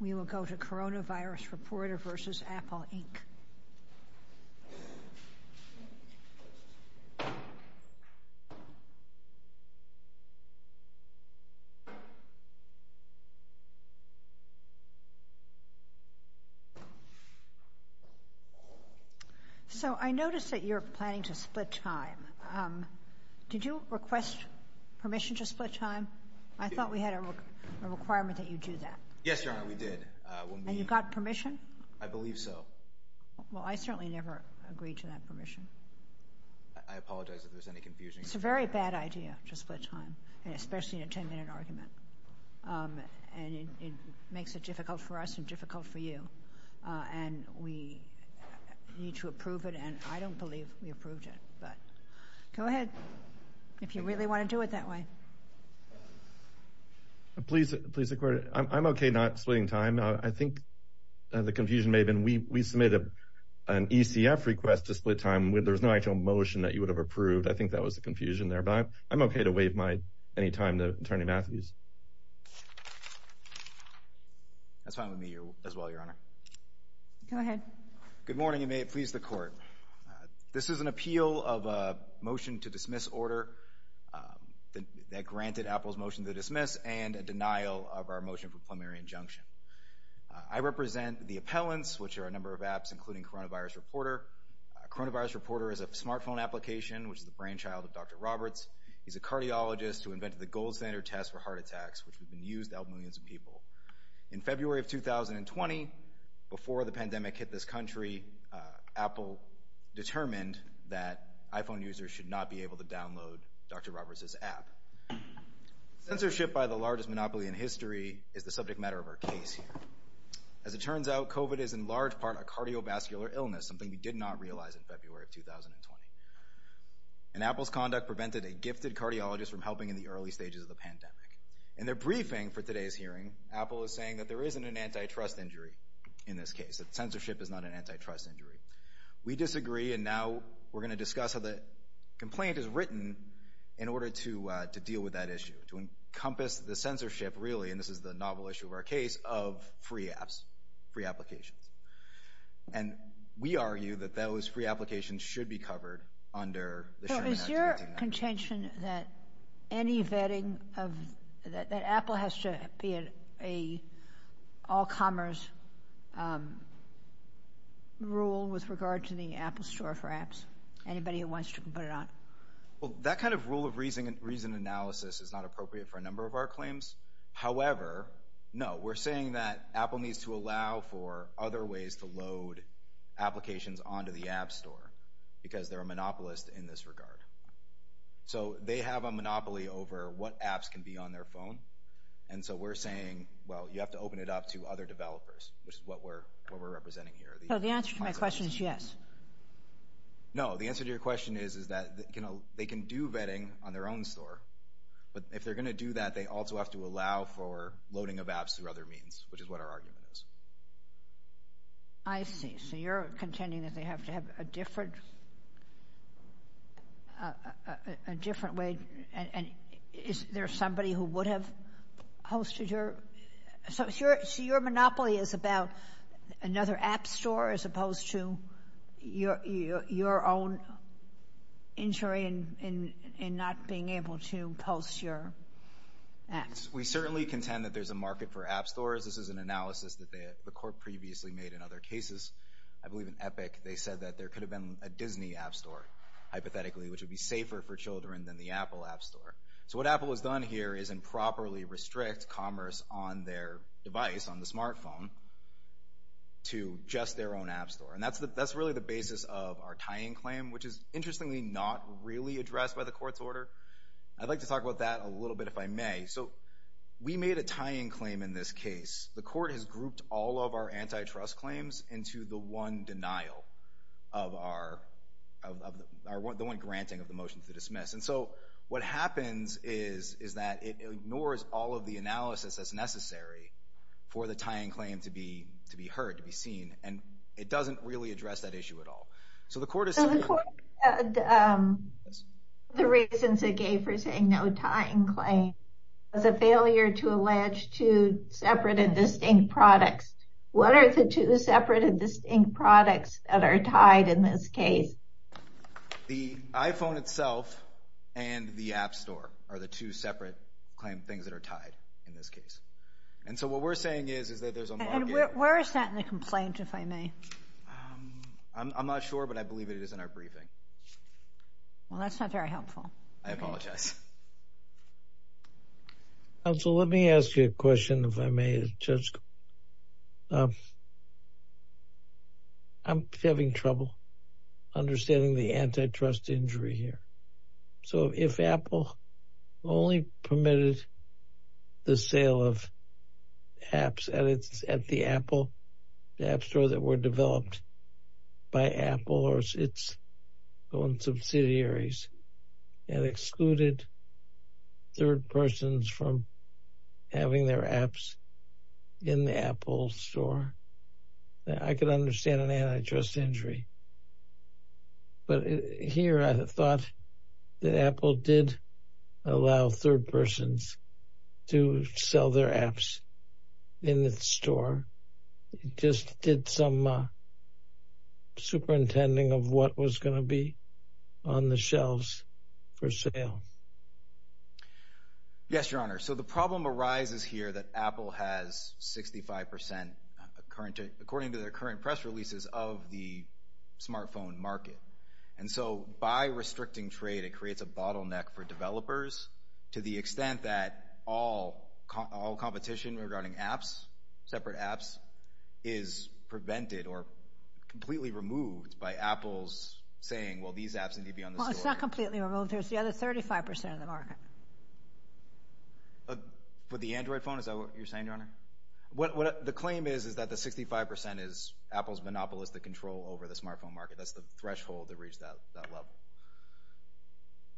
We will go to Coronavirus Reporter v. Apple, Inc. So I noticed that you're planning to split time. Did you request permission to do that? We did. And you got permission? I believe so. Well, I certainly never agreed to that permission. I apologize if there's any confusion. It's a very bad idea to split time, especially in a 10-minute argument, and it makes it difficult for us and difficult for you, and we need to approve it, and I don't believe we approved it, but go ahead if you really want to do it that way. Please, please record it. I'm splitting time. I think the confusion may have been we submitted an ECF request to split time. There's no actual motion that you would have approved. I think that was the confusion there, but I'm okay to waive any time to Attorney Matthews. That's fine with me as well, Your Honor. Go ahead. Good morning, and may it please the Court. This is an appeal of a motion to dismiss order that granted Apple's motion for plenary injunction. I represent the appellants, which are a number of apps, including Coronavirus Reporter. Coronavirus Reporter is a smartphone application, which is the brainchild of Dr. Roberts. He's a cardiologist who invented the gold standard test for heart attacks, which has been used to help millions of people. In February of 2020, before the pandemic hit this country, Apple determined that iPhone users should not be able to is the subject matter of our case. As it turns out, COVID is in large part a cardiovascular illness, something we did not realize in February of 2020, and Apple's conduct prevented a gifted cardiologist from helping in the early stages of the pandemic. In their briefing for today's hearing, Apple is saying that there isn't an antitrust injury in this case, that censorship is not an antitrust injury. We disagree, and now we're going to discuss how the complaint is written in order to to deal with that issue, to encompass the censorship, really, and this is the novel issue of our case, of free apps, free applications. And we argue that those free applications should be covered under the Sherman Act of 2019. So is your contention that any vetting of, that Apple has to be an all-commerce rule with regard to the Apple Store for apps, anybody who wants to put it on? Well, that kind of rule of reason analysis is not appropriate for a number of claims. However, no, we're saying that Apple needs to allow for other ways to load applications onto the App Store, because they're a monopolist in this regard. So they have a monopoly over what apps can be on their phone, and so we're saying, well, you have to open it up to other developers, which is what we're what we're representing here. So the answer to my question is yes. No, the answer to your question is, is that, you know, they can do vetting on their own store, but if they're going to do that, they also have to allow for loading of apps through other means, which is what our argument is. I see. So you're contending that they have to have a different, a different way, and is there somebody who would have hosted your, so your monopoly is about another App Store, as opposed to your own injury in not being able to post your apps? We certainly contend that there's a market for App Stores. This is an analysis that the court previously made in other cases. I believe in Epic, they said that there could have been a Disney App Store, hypothetically, which would be safer for children than the Apple App Store. So what Apple has done here is properly restrict commerce on their device, on the smartphone, to just their own App Store. And that's the, that's really the basis of our tying claim, which is interestingly not really addressed by the court's order. I'd like to talk about that a little bit, if I may. So we made a tying claim in this case. The court has grouped all of our antitrust claims into the one denial of our, the one granting of the motion to dismiss. And so what happens is, is that it ignores all of the analysis that's necessary for the tying claim to be, to be heard, to be seen. And it doesn't really address that issue at all. So the court has said... So the court, the reasons it gave for saying no tying claim was a failure to allege two separate and distinct products. What are the two separate and distinct products that are tied in this case? The iPhone itself and the App Store are the two separate claim things that are tied in this case. And so what we're saying is, is that there's a... And where is that in the complaint, if I may? I'm not sure, but I believe it is in our briefing. Well, that's not very helpful. I apologize. Counsel, let me ask you a question, if I may, as a judge. I'm having trouble understanding the antitrust injury here. So if Apple only permitted the sale of apps at the Apple, the App Store that were developed by Apple or its own subsidiaries and excluded third persons from having their apps in the Apple Store, I could understand an antitrust injury. But here I thought that Apple did allow third persons to sell their apps. So I'm a superintending of what was going to be on the shelves for sale. Yes, Your Honor. So the problem arises here that Apple has 65% according to their current press releases of the smartphone market. And so by restricting trade, it creates a bottleneck for developers to the extent that all competition regarding apps, separate apps, is prevented or completely removed by Apple's saying, well, these apps need to be on the store. Well, it's not completely removed. There's the other 35% of the market. For the Android phone? Is that what you're saying, Your Honor? The claim is that the 65% is Apple's monopolist to control over the smartphone market. That's the threshold to reach that level.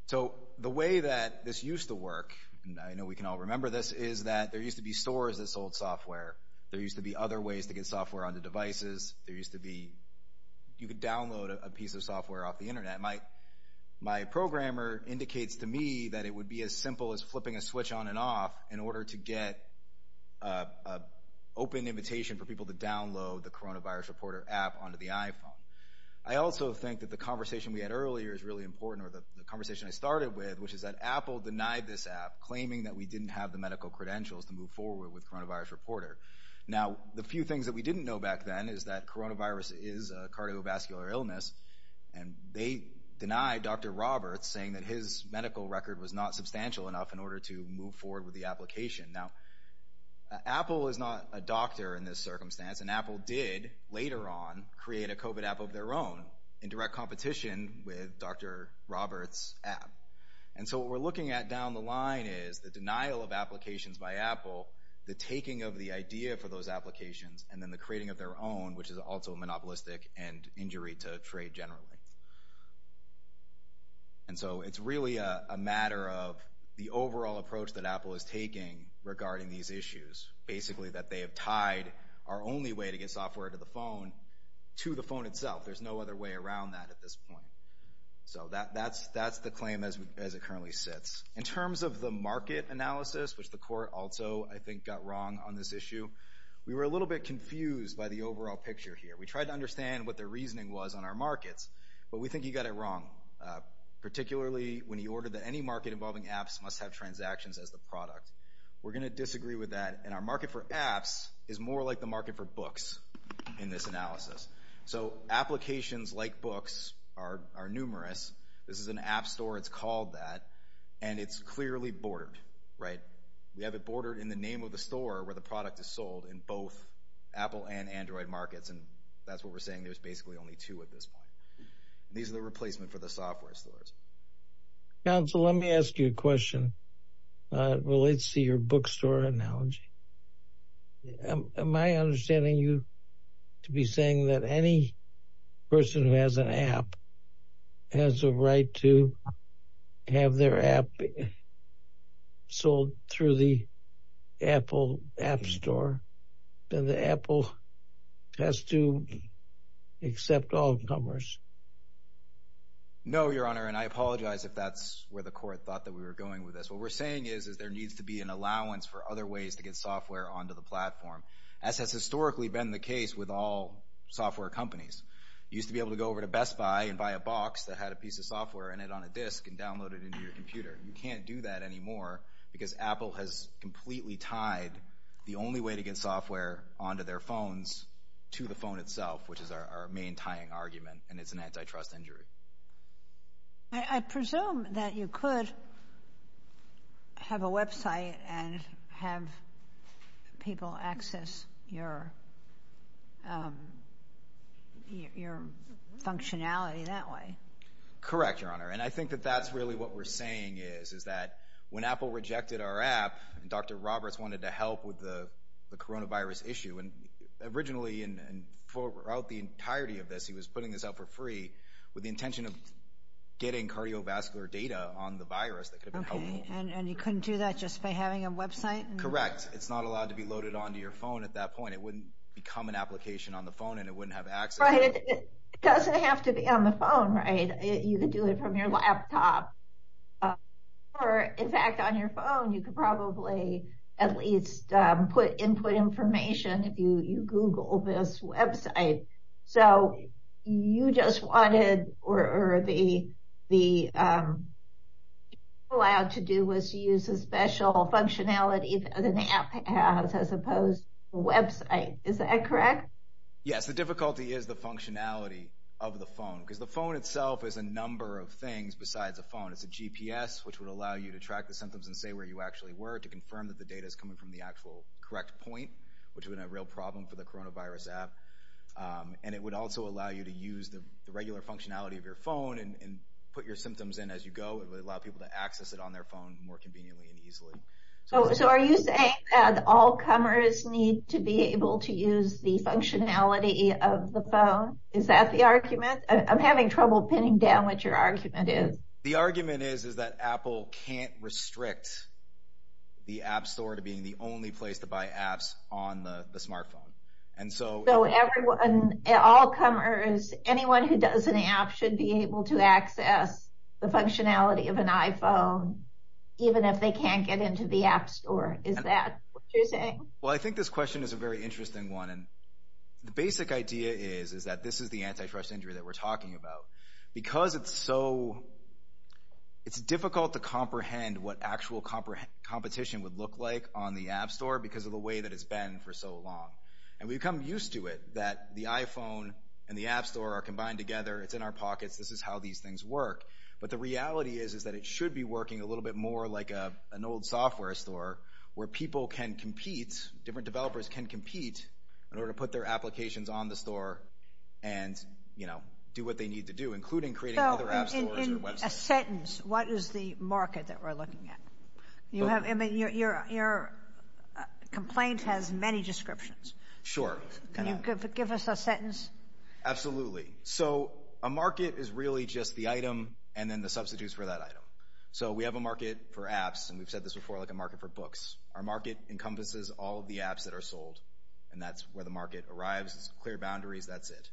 So the way that this used to work, and I know we can all remember this, is that there used to be stores that sold software. There used to be other ways to get software onto devices. There used to be you could download a piece of software off the Internet. My programmer indicates to me that it would be as simple as flipping a switch on and off in order to get an open invitation for people to download the coronavirus reporter app onto the iPhone. I also think that the conversation we had earlier is really important, or the conversation I started with, which is that Apple denied this app, claiming that we didn't have the medical credentials to move forward with coronavirus reporter. Now, the few things that we didn't know back then is that coronavirus is a cardiovascular illness, and they denied Dr. Roberts saying that his medical record was not substantial enough in order to move forward with the application. Now, Apple is not a doctor in this circumstance, and Apple did later on create a COVID app of their own in direct competition with Dr. Roberts' app. And so what we're looking at down the line is the denial of applications by Apple, the taking of the idea for those applications, and then the creating of their own, which is also monopolistic and injury to trade generally. And so it's really a matter of the overall approach that Apple is taking regarding these issues, basically that they have tied our only way to get software to the phone to the phone itself. There's no other way around that at this point. So that's the claim as it currently sits. In terms of the market analysis, which the court also, I think, got wrong on this issue, we were a little bit confused by the overall picture here. We tried to understand what their reasoning was on our markets, but we think he got it wrong, particularly when he ordered that any market involving apps must have transactions as the product. We're going to disagree with that, and our market for apps is more like the market for books in this analysis. So applications like books are numerous. This is an app store. It's called that, and it's clearly bordered, right? We have it bordered in the name of the store where the product is sold in both Apple and Android markets, and that's what we're saying. There's basically only two at this point. These are the replacement for the software stores. Counsel, let me ask you a question. Let's see your bookstore analogy. Am I understanding you to be saying that any person who has an app has a right to have their app sold through the Apple app store, and the Apple has to accept all comers? No, Your Honor, and I apologize if that's where the court thought that we were going with this. What we're saying is there needs to be an allowance for other ways to get software onto the platform, as has historically been the case with all software companies. You used to be able to go over to Best Buy and buy a box that had a piece of software in it on a disk and download it into your computer. You can't do that anymore because Apple has completely tied the only way to get software onto their phones to the phone itself, which is our main tying argument, and it's an antitrust injury. I presume that you could have a website and have people access your functionality that way. Correct, Your Honor, and I think that that's really what we're saying is that when Apple rejected our app and Dr. Roberts wanted to help with the coronavirus issue, and originally and throughout the entirety of this, he was putting this out for free with the intention of getting cardiovascular data on the virus that could have been helpful. Okay, and you couldn't do that just by having a website? Correct. It's not allowed to be loaded onto your phone at that point. It wouldn't become an application on the phone, and it wouldn't have access. Right. It doesn't have to be on the phone, right? You could do it from your laptop. Or, in fact, on your phone you could probably at least input information if you Google this website. So you just wanted or the allowed to do was to use a special functionality that an app has as opposed to a website. Is that correct? Yes, the difficulty is the functionality of the phone because the phone itself is a number of things besides a phone. It's a GPS, which would allow you to track the symptoms and say where you actually were to confirm that the data is coming from the actual correct point, which would be a real problem for the coronavirus app. And it would also allow you to use the regular functionality of your phone and put your symptoms in as you go. It would allow people to access it on their phone more conveniently and easily. So are you saying that all comers need to be able to use the functionality of the phone? Is that the argument? I'm having trouble pinning down what your argument is. The argument is that Apple can't restrict the App Store to being the only place to buy apps on the smartphone. So all comers, anyone who does an app should be able to access the functionality of an iPhone even if they can't get into the App Store. Is that what you're saying? Well, I think this question is a very interesting one. The basic idea is that this is the antifrust injury that we're talking about. Because it's so... It's difficult to comprehend what actual competition would look like on the App Store because of the way that it's been for so long. And we've come used to it, that the iPhone and the App Store are combined together, it's in our pockets, this is how these things work. But the reality is that it should be working a little bit more like an old software store where people can compete, different developers can compete, in order to put their applications on the store and do what they need to do, including creating other app stores or websites. So in a sentence, what is the market that we're looking at? Your complaint has many descriptions. Sure. Can you give us a sentence? Absolutely. So a market is really just the item and then the substitutes for that item. So we have a market for apps, and we've said this before, like a market for books. Our market encompasses all of the apps that are sold, and that's where the market arrives. It's clear boundaries, that's it.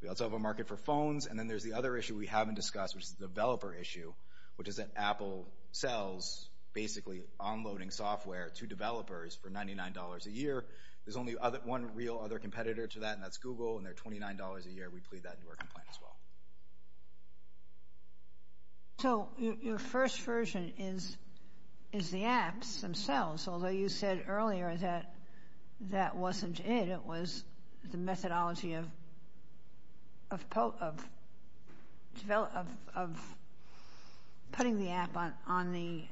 We also have a market for phones, and then there's the other issue we haven't discussed, which is the developer issue, which is that Apple sells, basically, onloading software to developers for $99 a year. There's only one real other competitor to that, and that's Google, and they're $29 a year. We plead that into our complaint as well. So your first version is the apps themselves, although you said earlier that that wasn't it. It was the methodology of putting the app on the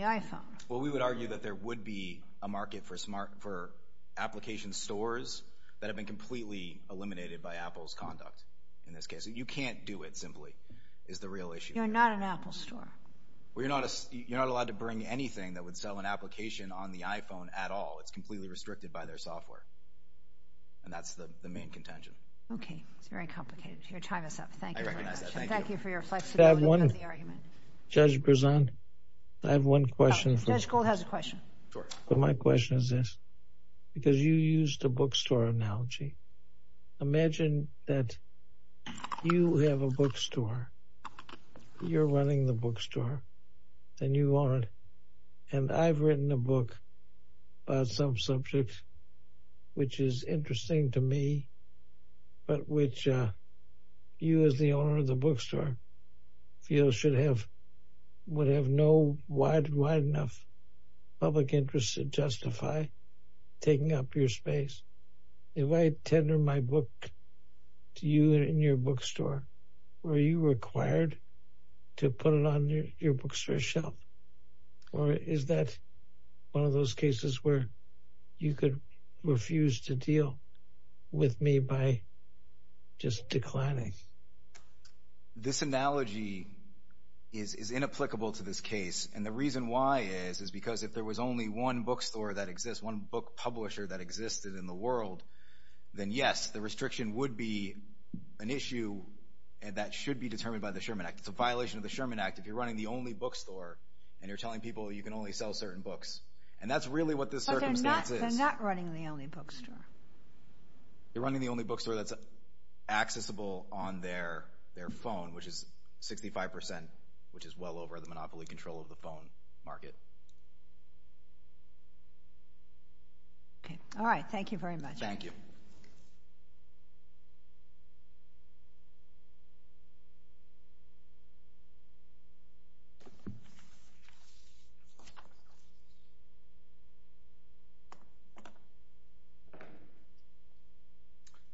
iPhone. Well, we would argue that there would be a market for application stores that have been completely eliminated by Apple's conduct in this case. You can't do it, simply, is the real issue. You're not an Apple store. Well, you're not allowed to bring anything that would sell an application on the iPhone at all. It's completely restricted by their software, and that's the main contention. Okay, it's very complicated. Your time is up. Thank you for your question. I recognize that. Thank you. Thank you for your flexibility with the argument. Judge Berzon, I have one question. Judge Gold has a question. Sure. My question is this, because you used a bookstore analogy. Imagine that you have a bookstore, you're running the bookstore, and you own it, and I've written a book about some subjects, which is interesting to me, but which you as the owner of the bookstore feel should have, would have no wide enough public interest to justify taking up your space. If I tender my book to you in your bookstore, are you required to put it on your bookstore shelf, or is that one of those cases where you could refuse to deal with me by just declining? This analogy is inapplicable to this case, and the reason why is because if there was only one bookstore that exists, one book publisher that existed in the world, then yes, the restriction would be an issue that should be determined by the Sherman Act. It's a violation of the Sherman Act if you're running the only bookstore and you're telling people you can only sell certain books, and that's really what this circumstance is. But they're not running the only bookstore. They're running the only bookstore that's accessible on their phone, which is 65%, which is well over the monopoly control of the phone market. Okay. All right. Thank you very much. Thank you.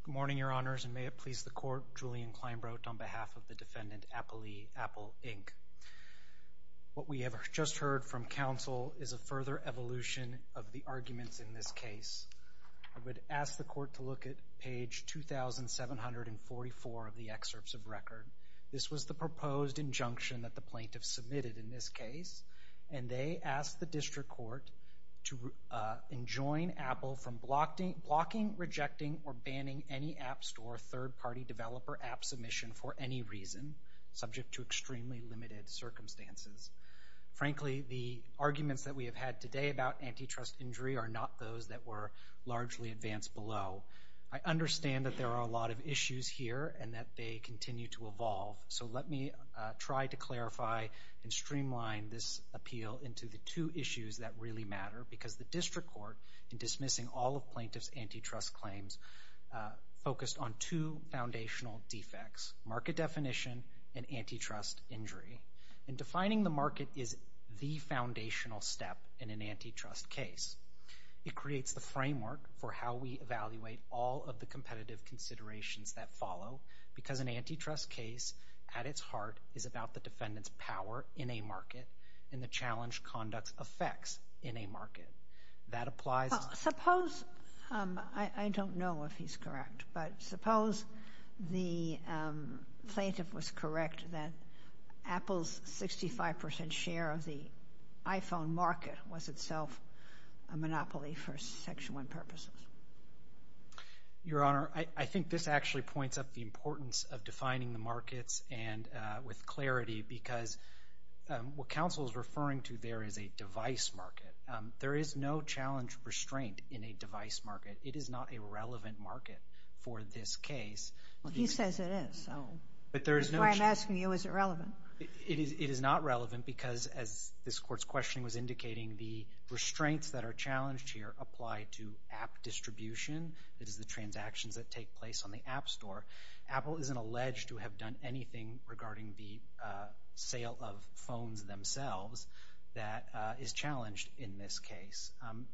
Good morning, Your Honors, and may it please the Court, Julian Kleinbrodt on behalf of the defendant, Apple Inc. What we have just heard from counsel is a further evolution of the arguments in this case. I would ask the Court to look at page 2744 of the excerpts of record. This was the proposed injunction that the plaintiff submitted in this case, and they asked the district court to enjoin Apple from blocking, rejecting, or banning any App Store third-party developer app submission for any reason, subject to extremely limited circumstances. Frankly, the arguments that we have had today about antitrust injury are not those that were largely advanced below. I understand that there are a lot of issues here and that they continue to evolve, so let me try to clarify and streamline this appeal into the two issues that really matter, because the district court, in dismissing all of plaintiff's antitrust claims, focused on two foundational defects, market definition and antitrust injury. And defining the market is the foundational step in an antitrust case. It creates the framework for how we evaluate all of the competitive considerations that follow, because an antitrust case, at its heart, is about the defendant's power in a market and the challenge conducts affects in a market. Suppose, I don't know if he's correct, but suppose the plaintiff was correct that Apple's 65% share of the iPhone market was itself a monopoly for Section 1 purposes. Your Honor, I think this actually points up the importance of defining the markets with clarity, because what counsel is referring to there is a device market. There is no challenge restraint in a device market. It is not a relevant market for this case. He says it is, so that's why I'm asking you, is it relevant? It is not relevant because, as this Court's questioning was indicating, the restraints that are challenged here apply to app distribution, that is the transactions that take place on the App Store. Apple isn't alleged to have done anything regarding the sale of phones themselves that is challenged in this case.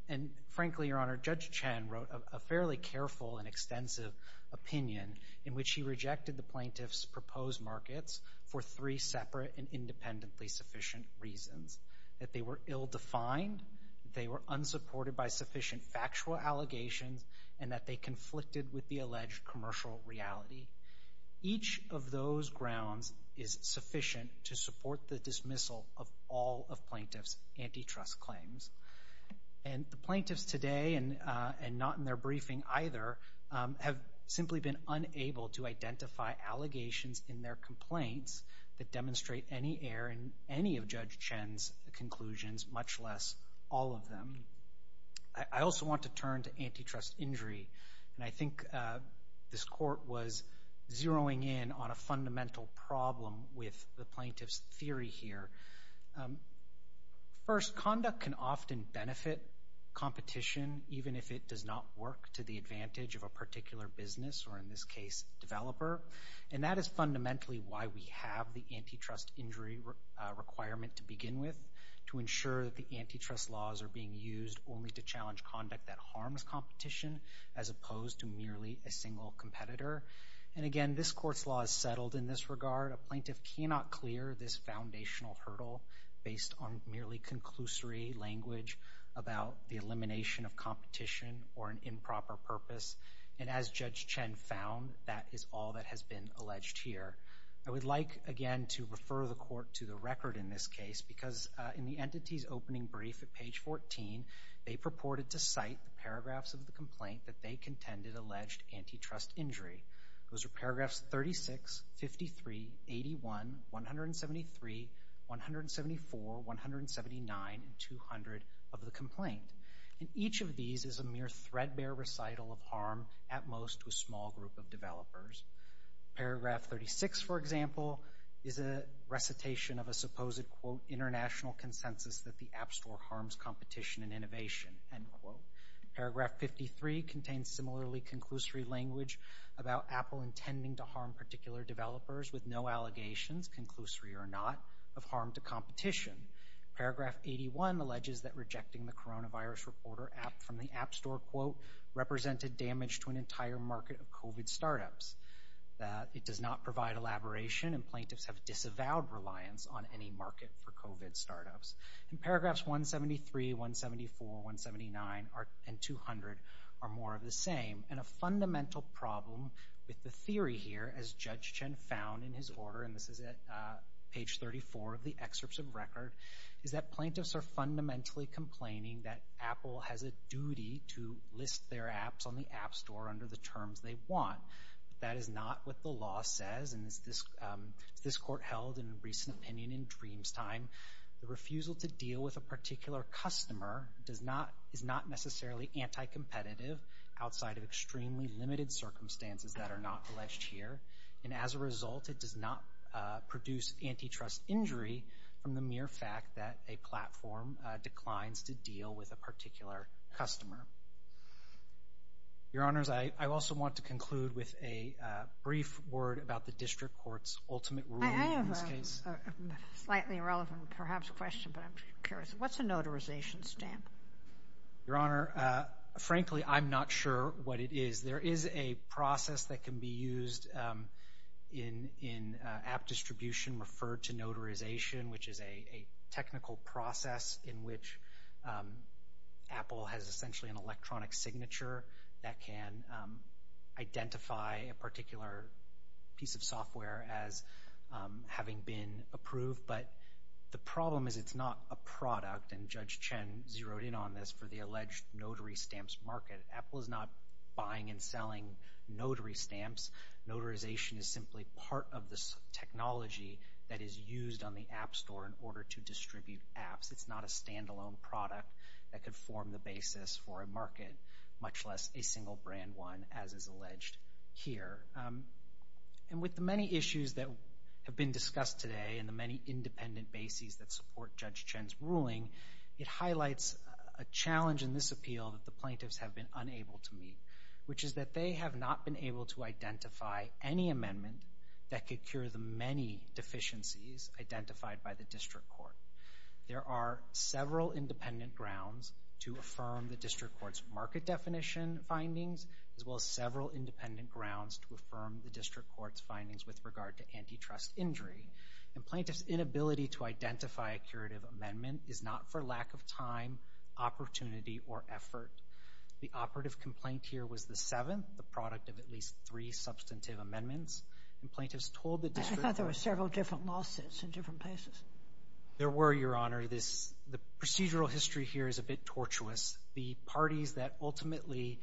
And frankly, Your Honor, Judge Chen wrote a fairly careful and extensive opinion in which he rejected the plaintiff's proposed markets for three separate and independently sufficient reasons, that they were ill-defined, they were unsupported by sufficient factual allegations, and that they conflicted with the alleged commercial reality. Each of those grounds is sufficient to support the dismissal of all of plaintiff's antitrust claims. And the plaintiffs today, and not in their briefing either, have simply been unable to identify allegations in their complaints that demonstrate any error in any of Judge Chen's conclusions, much less all of them. I also want to turn to antitrust injury, and I think this Court was zeroing in on a fundamental problem with the plaintiff's theory here. First, conduct can often benefit competition, even if it does not work to the advantage of a particular business, or in this case, developer. And that is fundamentally why we have the antitrust injury requirement to begin with, to ensure that the antitrust laws are being used only to challenge conduct that harms competition, as opposed to merely a single competitor. And again, this Court's law is settled in this regard. A plaintiff cannot clear this foundational hurdle based on merely conclusory language about the elimination of competition or an improper purpose. And as Judge Chen found, that is all that has been alleged here. I would like, again, to refer the Court to the record in this case, because in the entity's opening brief at page 14, they purported to cite the paragraphs of the complaint that they contended alleged antitrust injury. Those are paragraphs 36, 53, 81, 173, 174, 179, and 200 of the complaint. And each of these is a mere threadbare recital of harm at most to a small group of developers. Paragraph 36, for example, is a recitation of a supposed, quote, international consensus that the App Store harms competition and innovation, end quote. Paragraph 53 contains similarly conclusory language about Apple intending to harm particular developers with no allegations, conclusory or not, of harm to competition. Paragraph 81 alleges that rejecting the coronavirus reporter app from the App Store, quote, represented damage to an entire market of COVID startups. It does not provide elaboration, and plaintiffs have disavowed reliance on any market for COVID startups. And paragraphs 173, 174, 179, and 200 are more of the same. And a fundamental problem with the theory here, as Judge Chen found in his order, and this is at page 34 of the excerpts of record, is that plaintiffs are fundamentally complaining that Apple has a duty to list their apps on the App Store under the terms they want. That is not what the law says, and as this court held in a recent opinion in Dreamtime, the refusal to deal with a particular customer is not necessarily anti-competitive outside of extremely limited circumstances that are not alleged here. And as a result, it does not produce antitrust injury from the mere fact that a platform declines to deal with a particular customer. Your Honors, I also want to conclude with a brief word about the district court's ultimate ruling in this case. I have a slightly irrelevant, perhaps, question, but I'm curious. What's a notarization stamp? Your Honor, frankly, I'm not sure what it is. There is a process that can be used in app distribution referred to notarization, which is a technical process in which Apple has essentially an electronic signature that can identify a particular piece of software as having been approved. But the problem is it's not a product, and Judge Chen zeroed in on this, for the alleged notary stamps market. Apple is not buying and selling notary stamps. Notarization is simply part of the technology that is used on the App Store in order to distribute apps. It's not a standalone product that could form the basis for a market, much less a single brand one, as is alleged here. And with the many issues that have been discussed today and the many independent bases that support Judge Chen's ruling, it highlights a challenge in this appeal that the plaintiffs have been unable to meet, which is that they have not been able to identify any amendment that could cure the many deficiencies identified by the district court. There are several independent grounds to affirm the district court's market definition findings, as well as several independent grounds to affirm the district court's findings with regard to antitrust injury. And plaintiffs' inability to identify a curative amendment is not for lack of time, opportunity, or effort. The operative complaint here was the seventh, the product of at least three substantive amendments. And plaintiffs told the district court- I thought there were several different lawsuits in different places. There were, Your Honor. The procedural history here is a bit tortuous. The parties that ultimately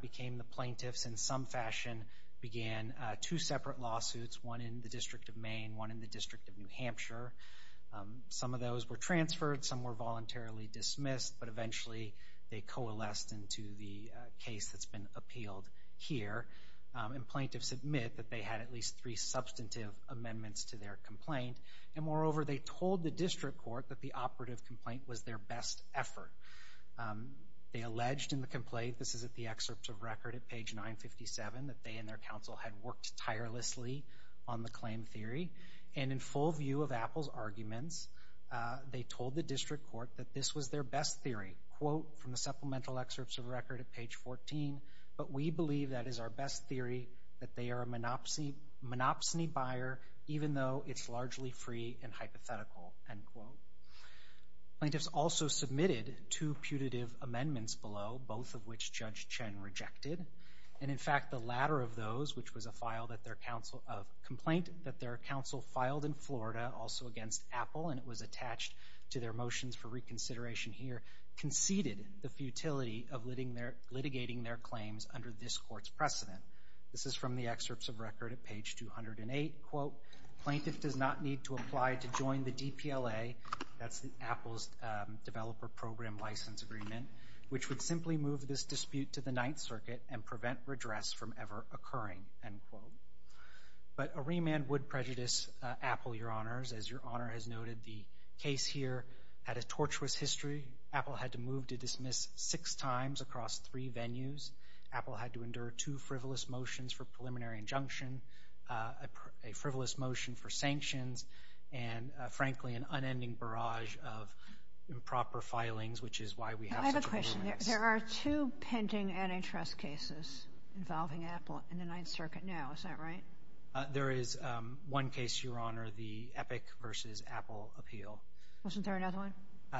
became the plaintiffs in some fashion began two separate lawsuits, one in the District of Maine, one in the District of New Hampshire. Some of those were transferred, some were voluntarily dismissed, but eventually they coalesced into the case that's been appealed here. And plaintiffs admit that they had at least three substantive amendments to their complaint. And moreover, they told the district court that the operative complaint was their best effort. They alleged in the complaint- this is at the excerpt of record at page 957- that they and their counsel had worked tirelessly on the claim theory. And in full view of Apple's arguments, they told the district court that this was their best theory, quote, from the supplemental excerpts of record at page 14, but we believe that is our best theory, that they are a monopsony buyer, even though it's largely free and hypothetical, end quote. Plaintiffs also submitted two putative amendments below, both of which Judge Chen rejected. And in fact, the latter of those, which was a complaint that their counsel filed in Florida, also against Apple, and it was attached to their motions for reconsideration here, conceded the futility of litigating their claims under this court's precedent. This is from the excerpts of record at page 208, quote, plaintiff does not need to apply to join the DPLA- that's Apple's developer program license agreement- which would simply move this dispute to the Ninth Circuit and prevent redress from ever occurring, end quote. But a remand would prejudice Apple, Your Honors. As Your Honor has noted, the case here had a tortuous history. Apple had to move to dismiss six times across three venues. Apple had to endure two frivolous motions for preliminary injunction, a frivolous motion for sanctions, and frankly, an unending barrage of improper filings, which is why we have- There are two pending antitrust cases involving Apple in the Ninth Circuit now. Is that right? There is one case, Your Honor, the Epic v. Apple appeal. Wasn't there another one?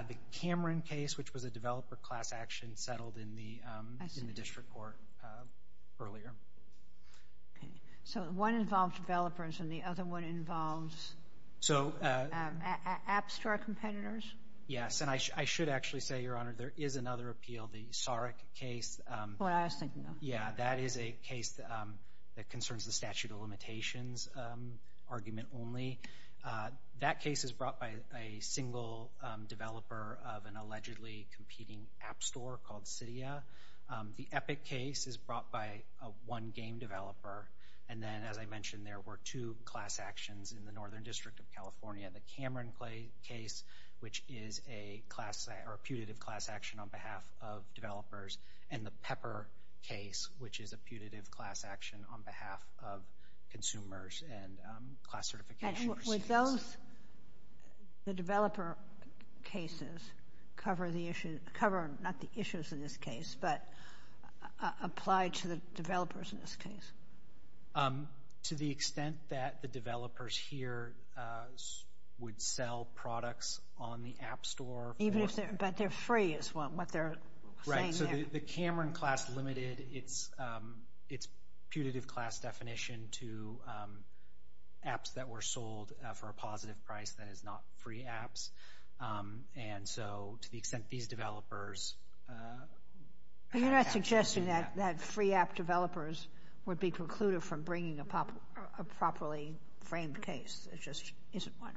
The Cameron case, which was a developer class action settled in the district court earlier. Okay. So one involved developers and the other one involves App Store competitors? Yes, and I should actually say, Your Honor, there is another appeal, the Sarek case. Oh, I was thinking of that. Yeah, that is a case that concerns the statute of limitations argument only. That case is brought by a single developer of an allegedly competing App Store called Cydia. The Epic case is brought by a one-game developer. And then, as I mentioned, there were two class actions in the Northern District of California. The Cameron case, which is a putative class action on behalf of developers, and the Pepper case, which is a putative class action on behalf of consumers and class certification recipients. Would the developer cases cover not the issues in this case, but apply to the developers in this case? To the extent that the developers here would sell products on the App Store. But they're free is what they're saying there. Right. So the Cameron class limited its putative class definition to apps that were sold for a positive price. That is not free apps. And so to the extent these developers have actions in that. That free app developers would be precluded from bringing a properly framed case. It just isn't one.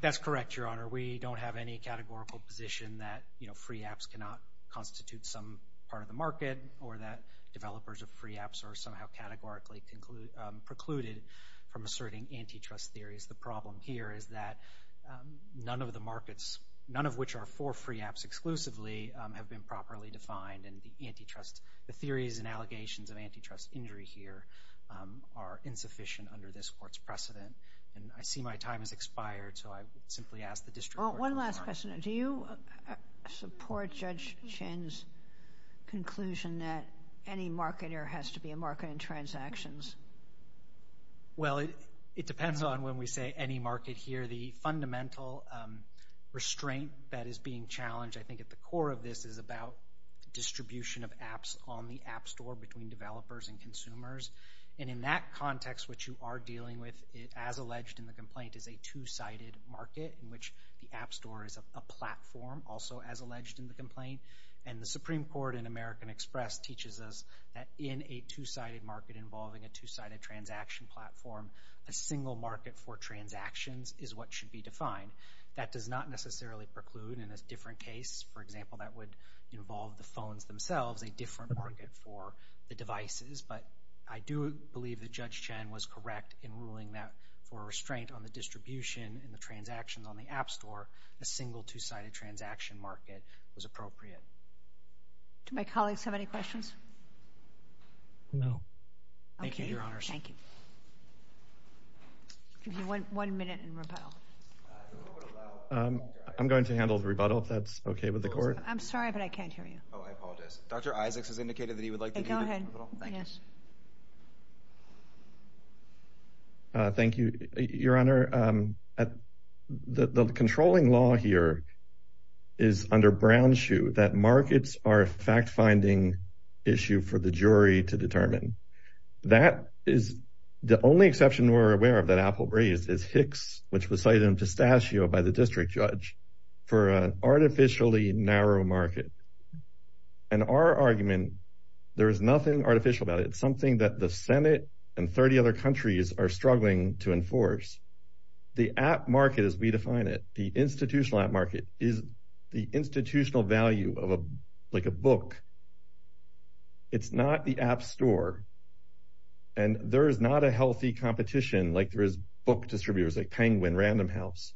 That's correct, Your Honor. We don't have any categorical position that free apps cannot constitute some part of the market or that developers of free apps are somehow categorically precluded from asserting antitrust theories. The problem here is that none of the markets, none of which are for free apps exclusively, have been properly defined. And the theories and allegations of antitrust injury here are insufficient under this court's precedent. And I see my time has expired, so I simply ask the district court. One last question. Do you support Judge Chin's conclusion that any marketer has to be a marketer in transactions? Well, it depends on when we say any market here. The fundamental restraint that is being challenged, I think, at the core of this, is about distribution of apps on the app store between developers and consumers. And in that context, what you are dealing with, as alleged in the complaint, is a two-sided market in which the app store is a platform, also as alleged in the complaint. And the Supreme Court in American Express teaches us that in a two-sided market involving a two-sided transaction platform, a single market for transactions is what should be defined. That does not necessarily preclude in a different case, for example, that would involve the phones themselves, a different market for the devices. But I do believe that Judge Chin was correct in ruling that for a restraint on the distribution and the transactions on the app store, a single two-sided transaction market was appropriate. Do my colleagues have any questions? No. Thank you, Your Honors. Thank you. One minute and rebuttal. I'm going to handle the rebuttal if that's okay with the Court. I'm sorry, but I can't hear you. Oh, I apologize. Dr. Isaacs has indicated that he would like to do the rebuttal. Go ahead. Thank you, Your Honor. The controlling law here is under brown shoe that markets are a fact-finding issue for the jury to determine. That is the only exception we're aware of that Apple raised is Hicks, which was cited in Pistachio by the District Judge for an artificially narrow market. And our argument, there is nothing artificial about it. It's something that the Senate and 30 other countries are struggling to enforce. The app market as we define it, the institutional app market is the institutional value of a book. It's not the app store. And there is not a healthy competition like there is book distributors like Penguin, Random House.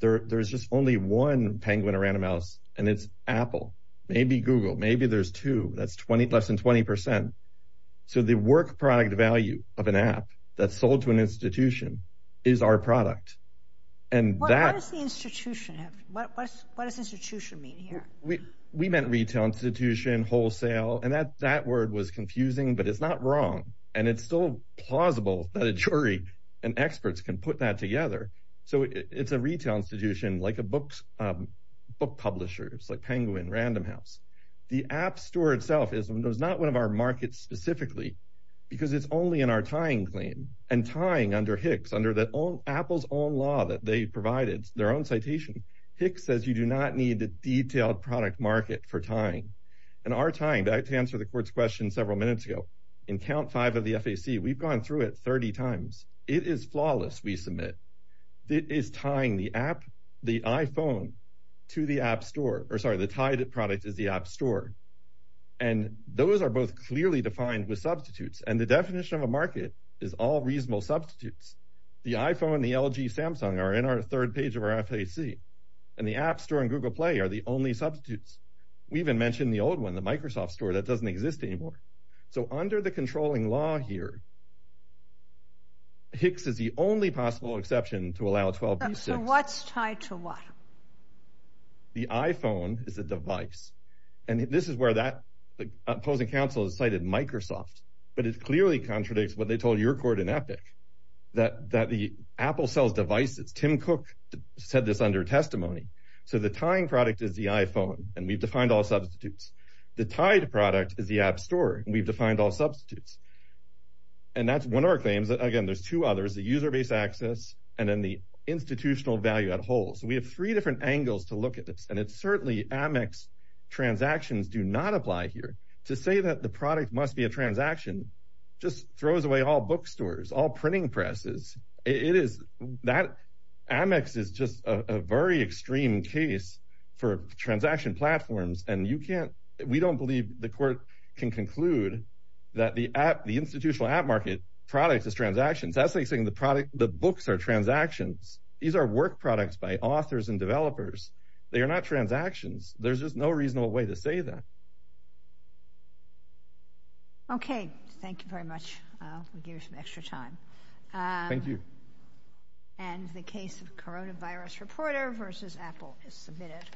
There's just only one Penguin or Random House, and it's Apple. Maybe Google. Maybe there's two. That's less than 20%. So the work product value of an app that's sold to an institution is our product. What does institution mean here? We meant retail institution, wholesale. And that word was confusing, but it's not wrong. And it's still plausible that a jury and experts can put that together. So it's a retail institution like book publishers like Penguin, Random House. The app store itself is not one of our markets specifically because it's only in our tying claim. And tying under Hicks, under Apple's own law that they provided, their own citation, Hicks says you do not need a detailed product market for tying. And our tying, to answer the court's question several minutes ago, in count five of the FAC, we've gone through it 30 times. It is flawless, we submit. It is tying the app, the iPhone to the app store, or sorry, the tied product is the app store. And those are both clearly defined with substitutes. And the definition of a market is all reasonable substitutes. The iPhone, the LG, Samsung are in our third page of our FAC. And the app store and Google Play are the only substitutes. We even mentioned the old one, the Microsoft store, that doesn't exist anymore. So under the controlling law here, Hicks is the only possible exception to allow 12B6. So what's tied to what? The iPhone is a device. And this is where that opposing counsel has cited Microsoft. But it clearly contradicts what they told your court in Epic, that the Apple sells devices. Tim Cook said this under testimony. So the tying product is the iPhone. And we've defined all substitutes. The tied product is the app store. And we've defined all substitutes. And that's one of our claims. Again, there's two others, the user-based access and then the institutional value at whole. So we have three different angles to look at this. And it's certainly Amex transactions do not apply here. To say that the product must be a transaction just throws away all bookstores, all printing presses. It is that Amex is just a very extreme case for transaction platforms. And we don't believe the court can conclude that the institutional app market product is transactions. That's like saying the books are transactions. These are work products by authors and developers. They are not transactions. There's just no reasonable way to say that. Okay. Thank you very much. We'll give you some extra time. Thank you. And the case of coronavirus reporter versus Apple is submitted.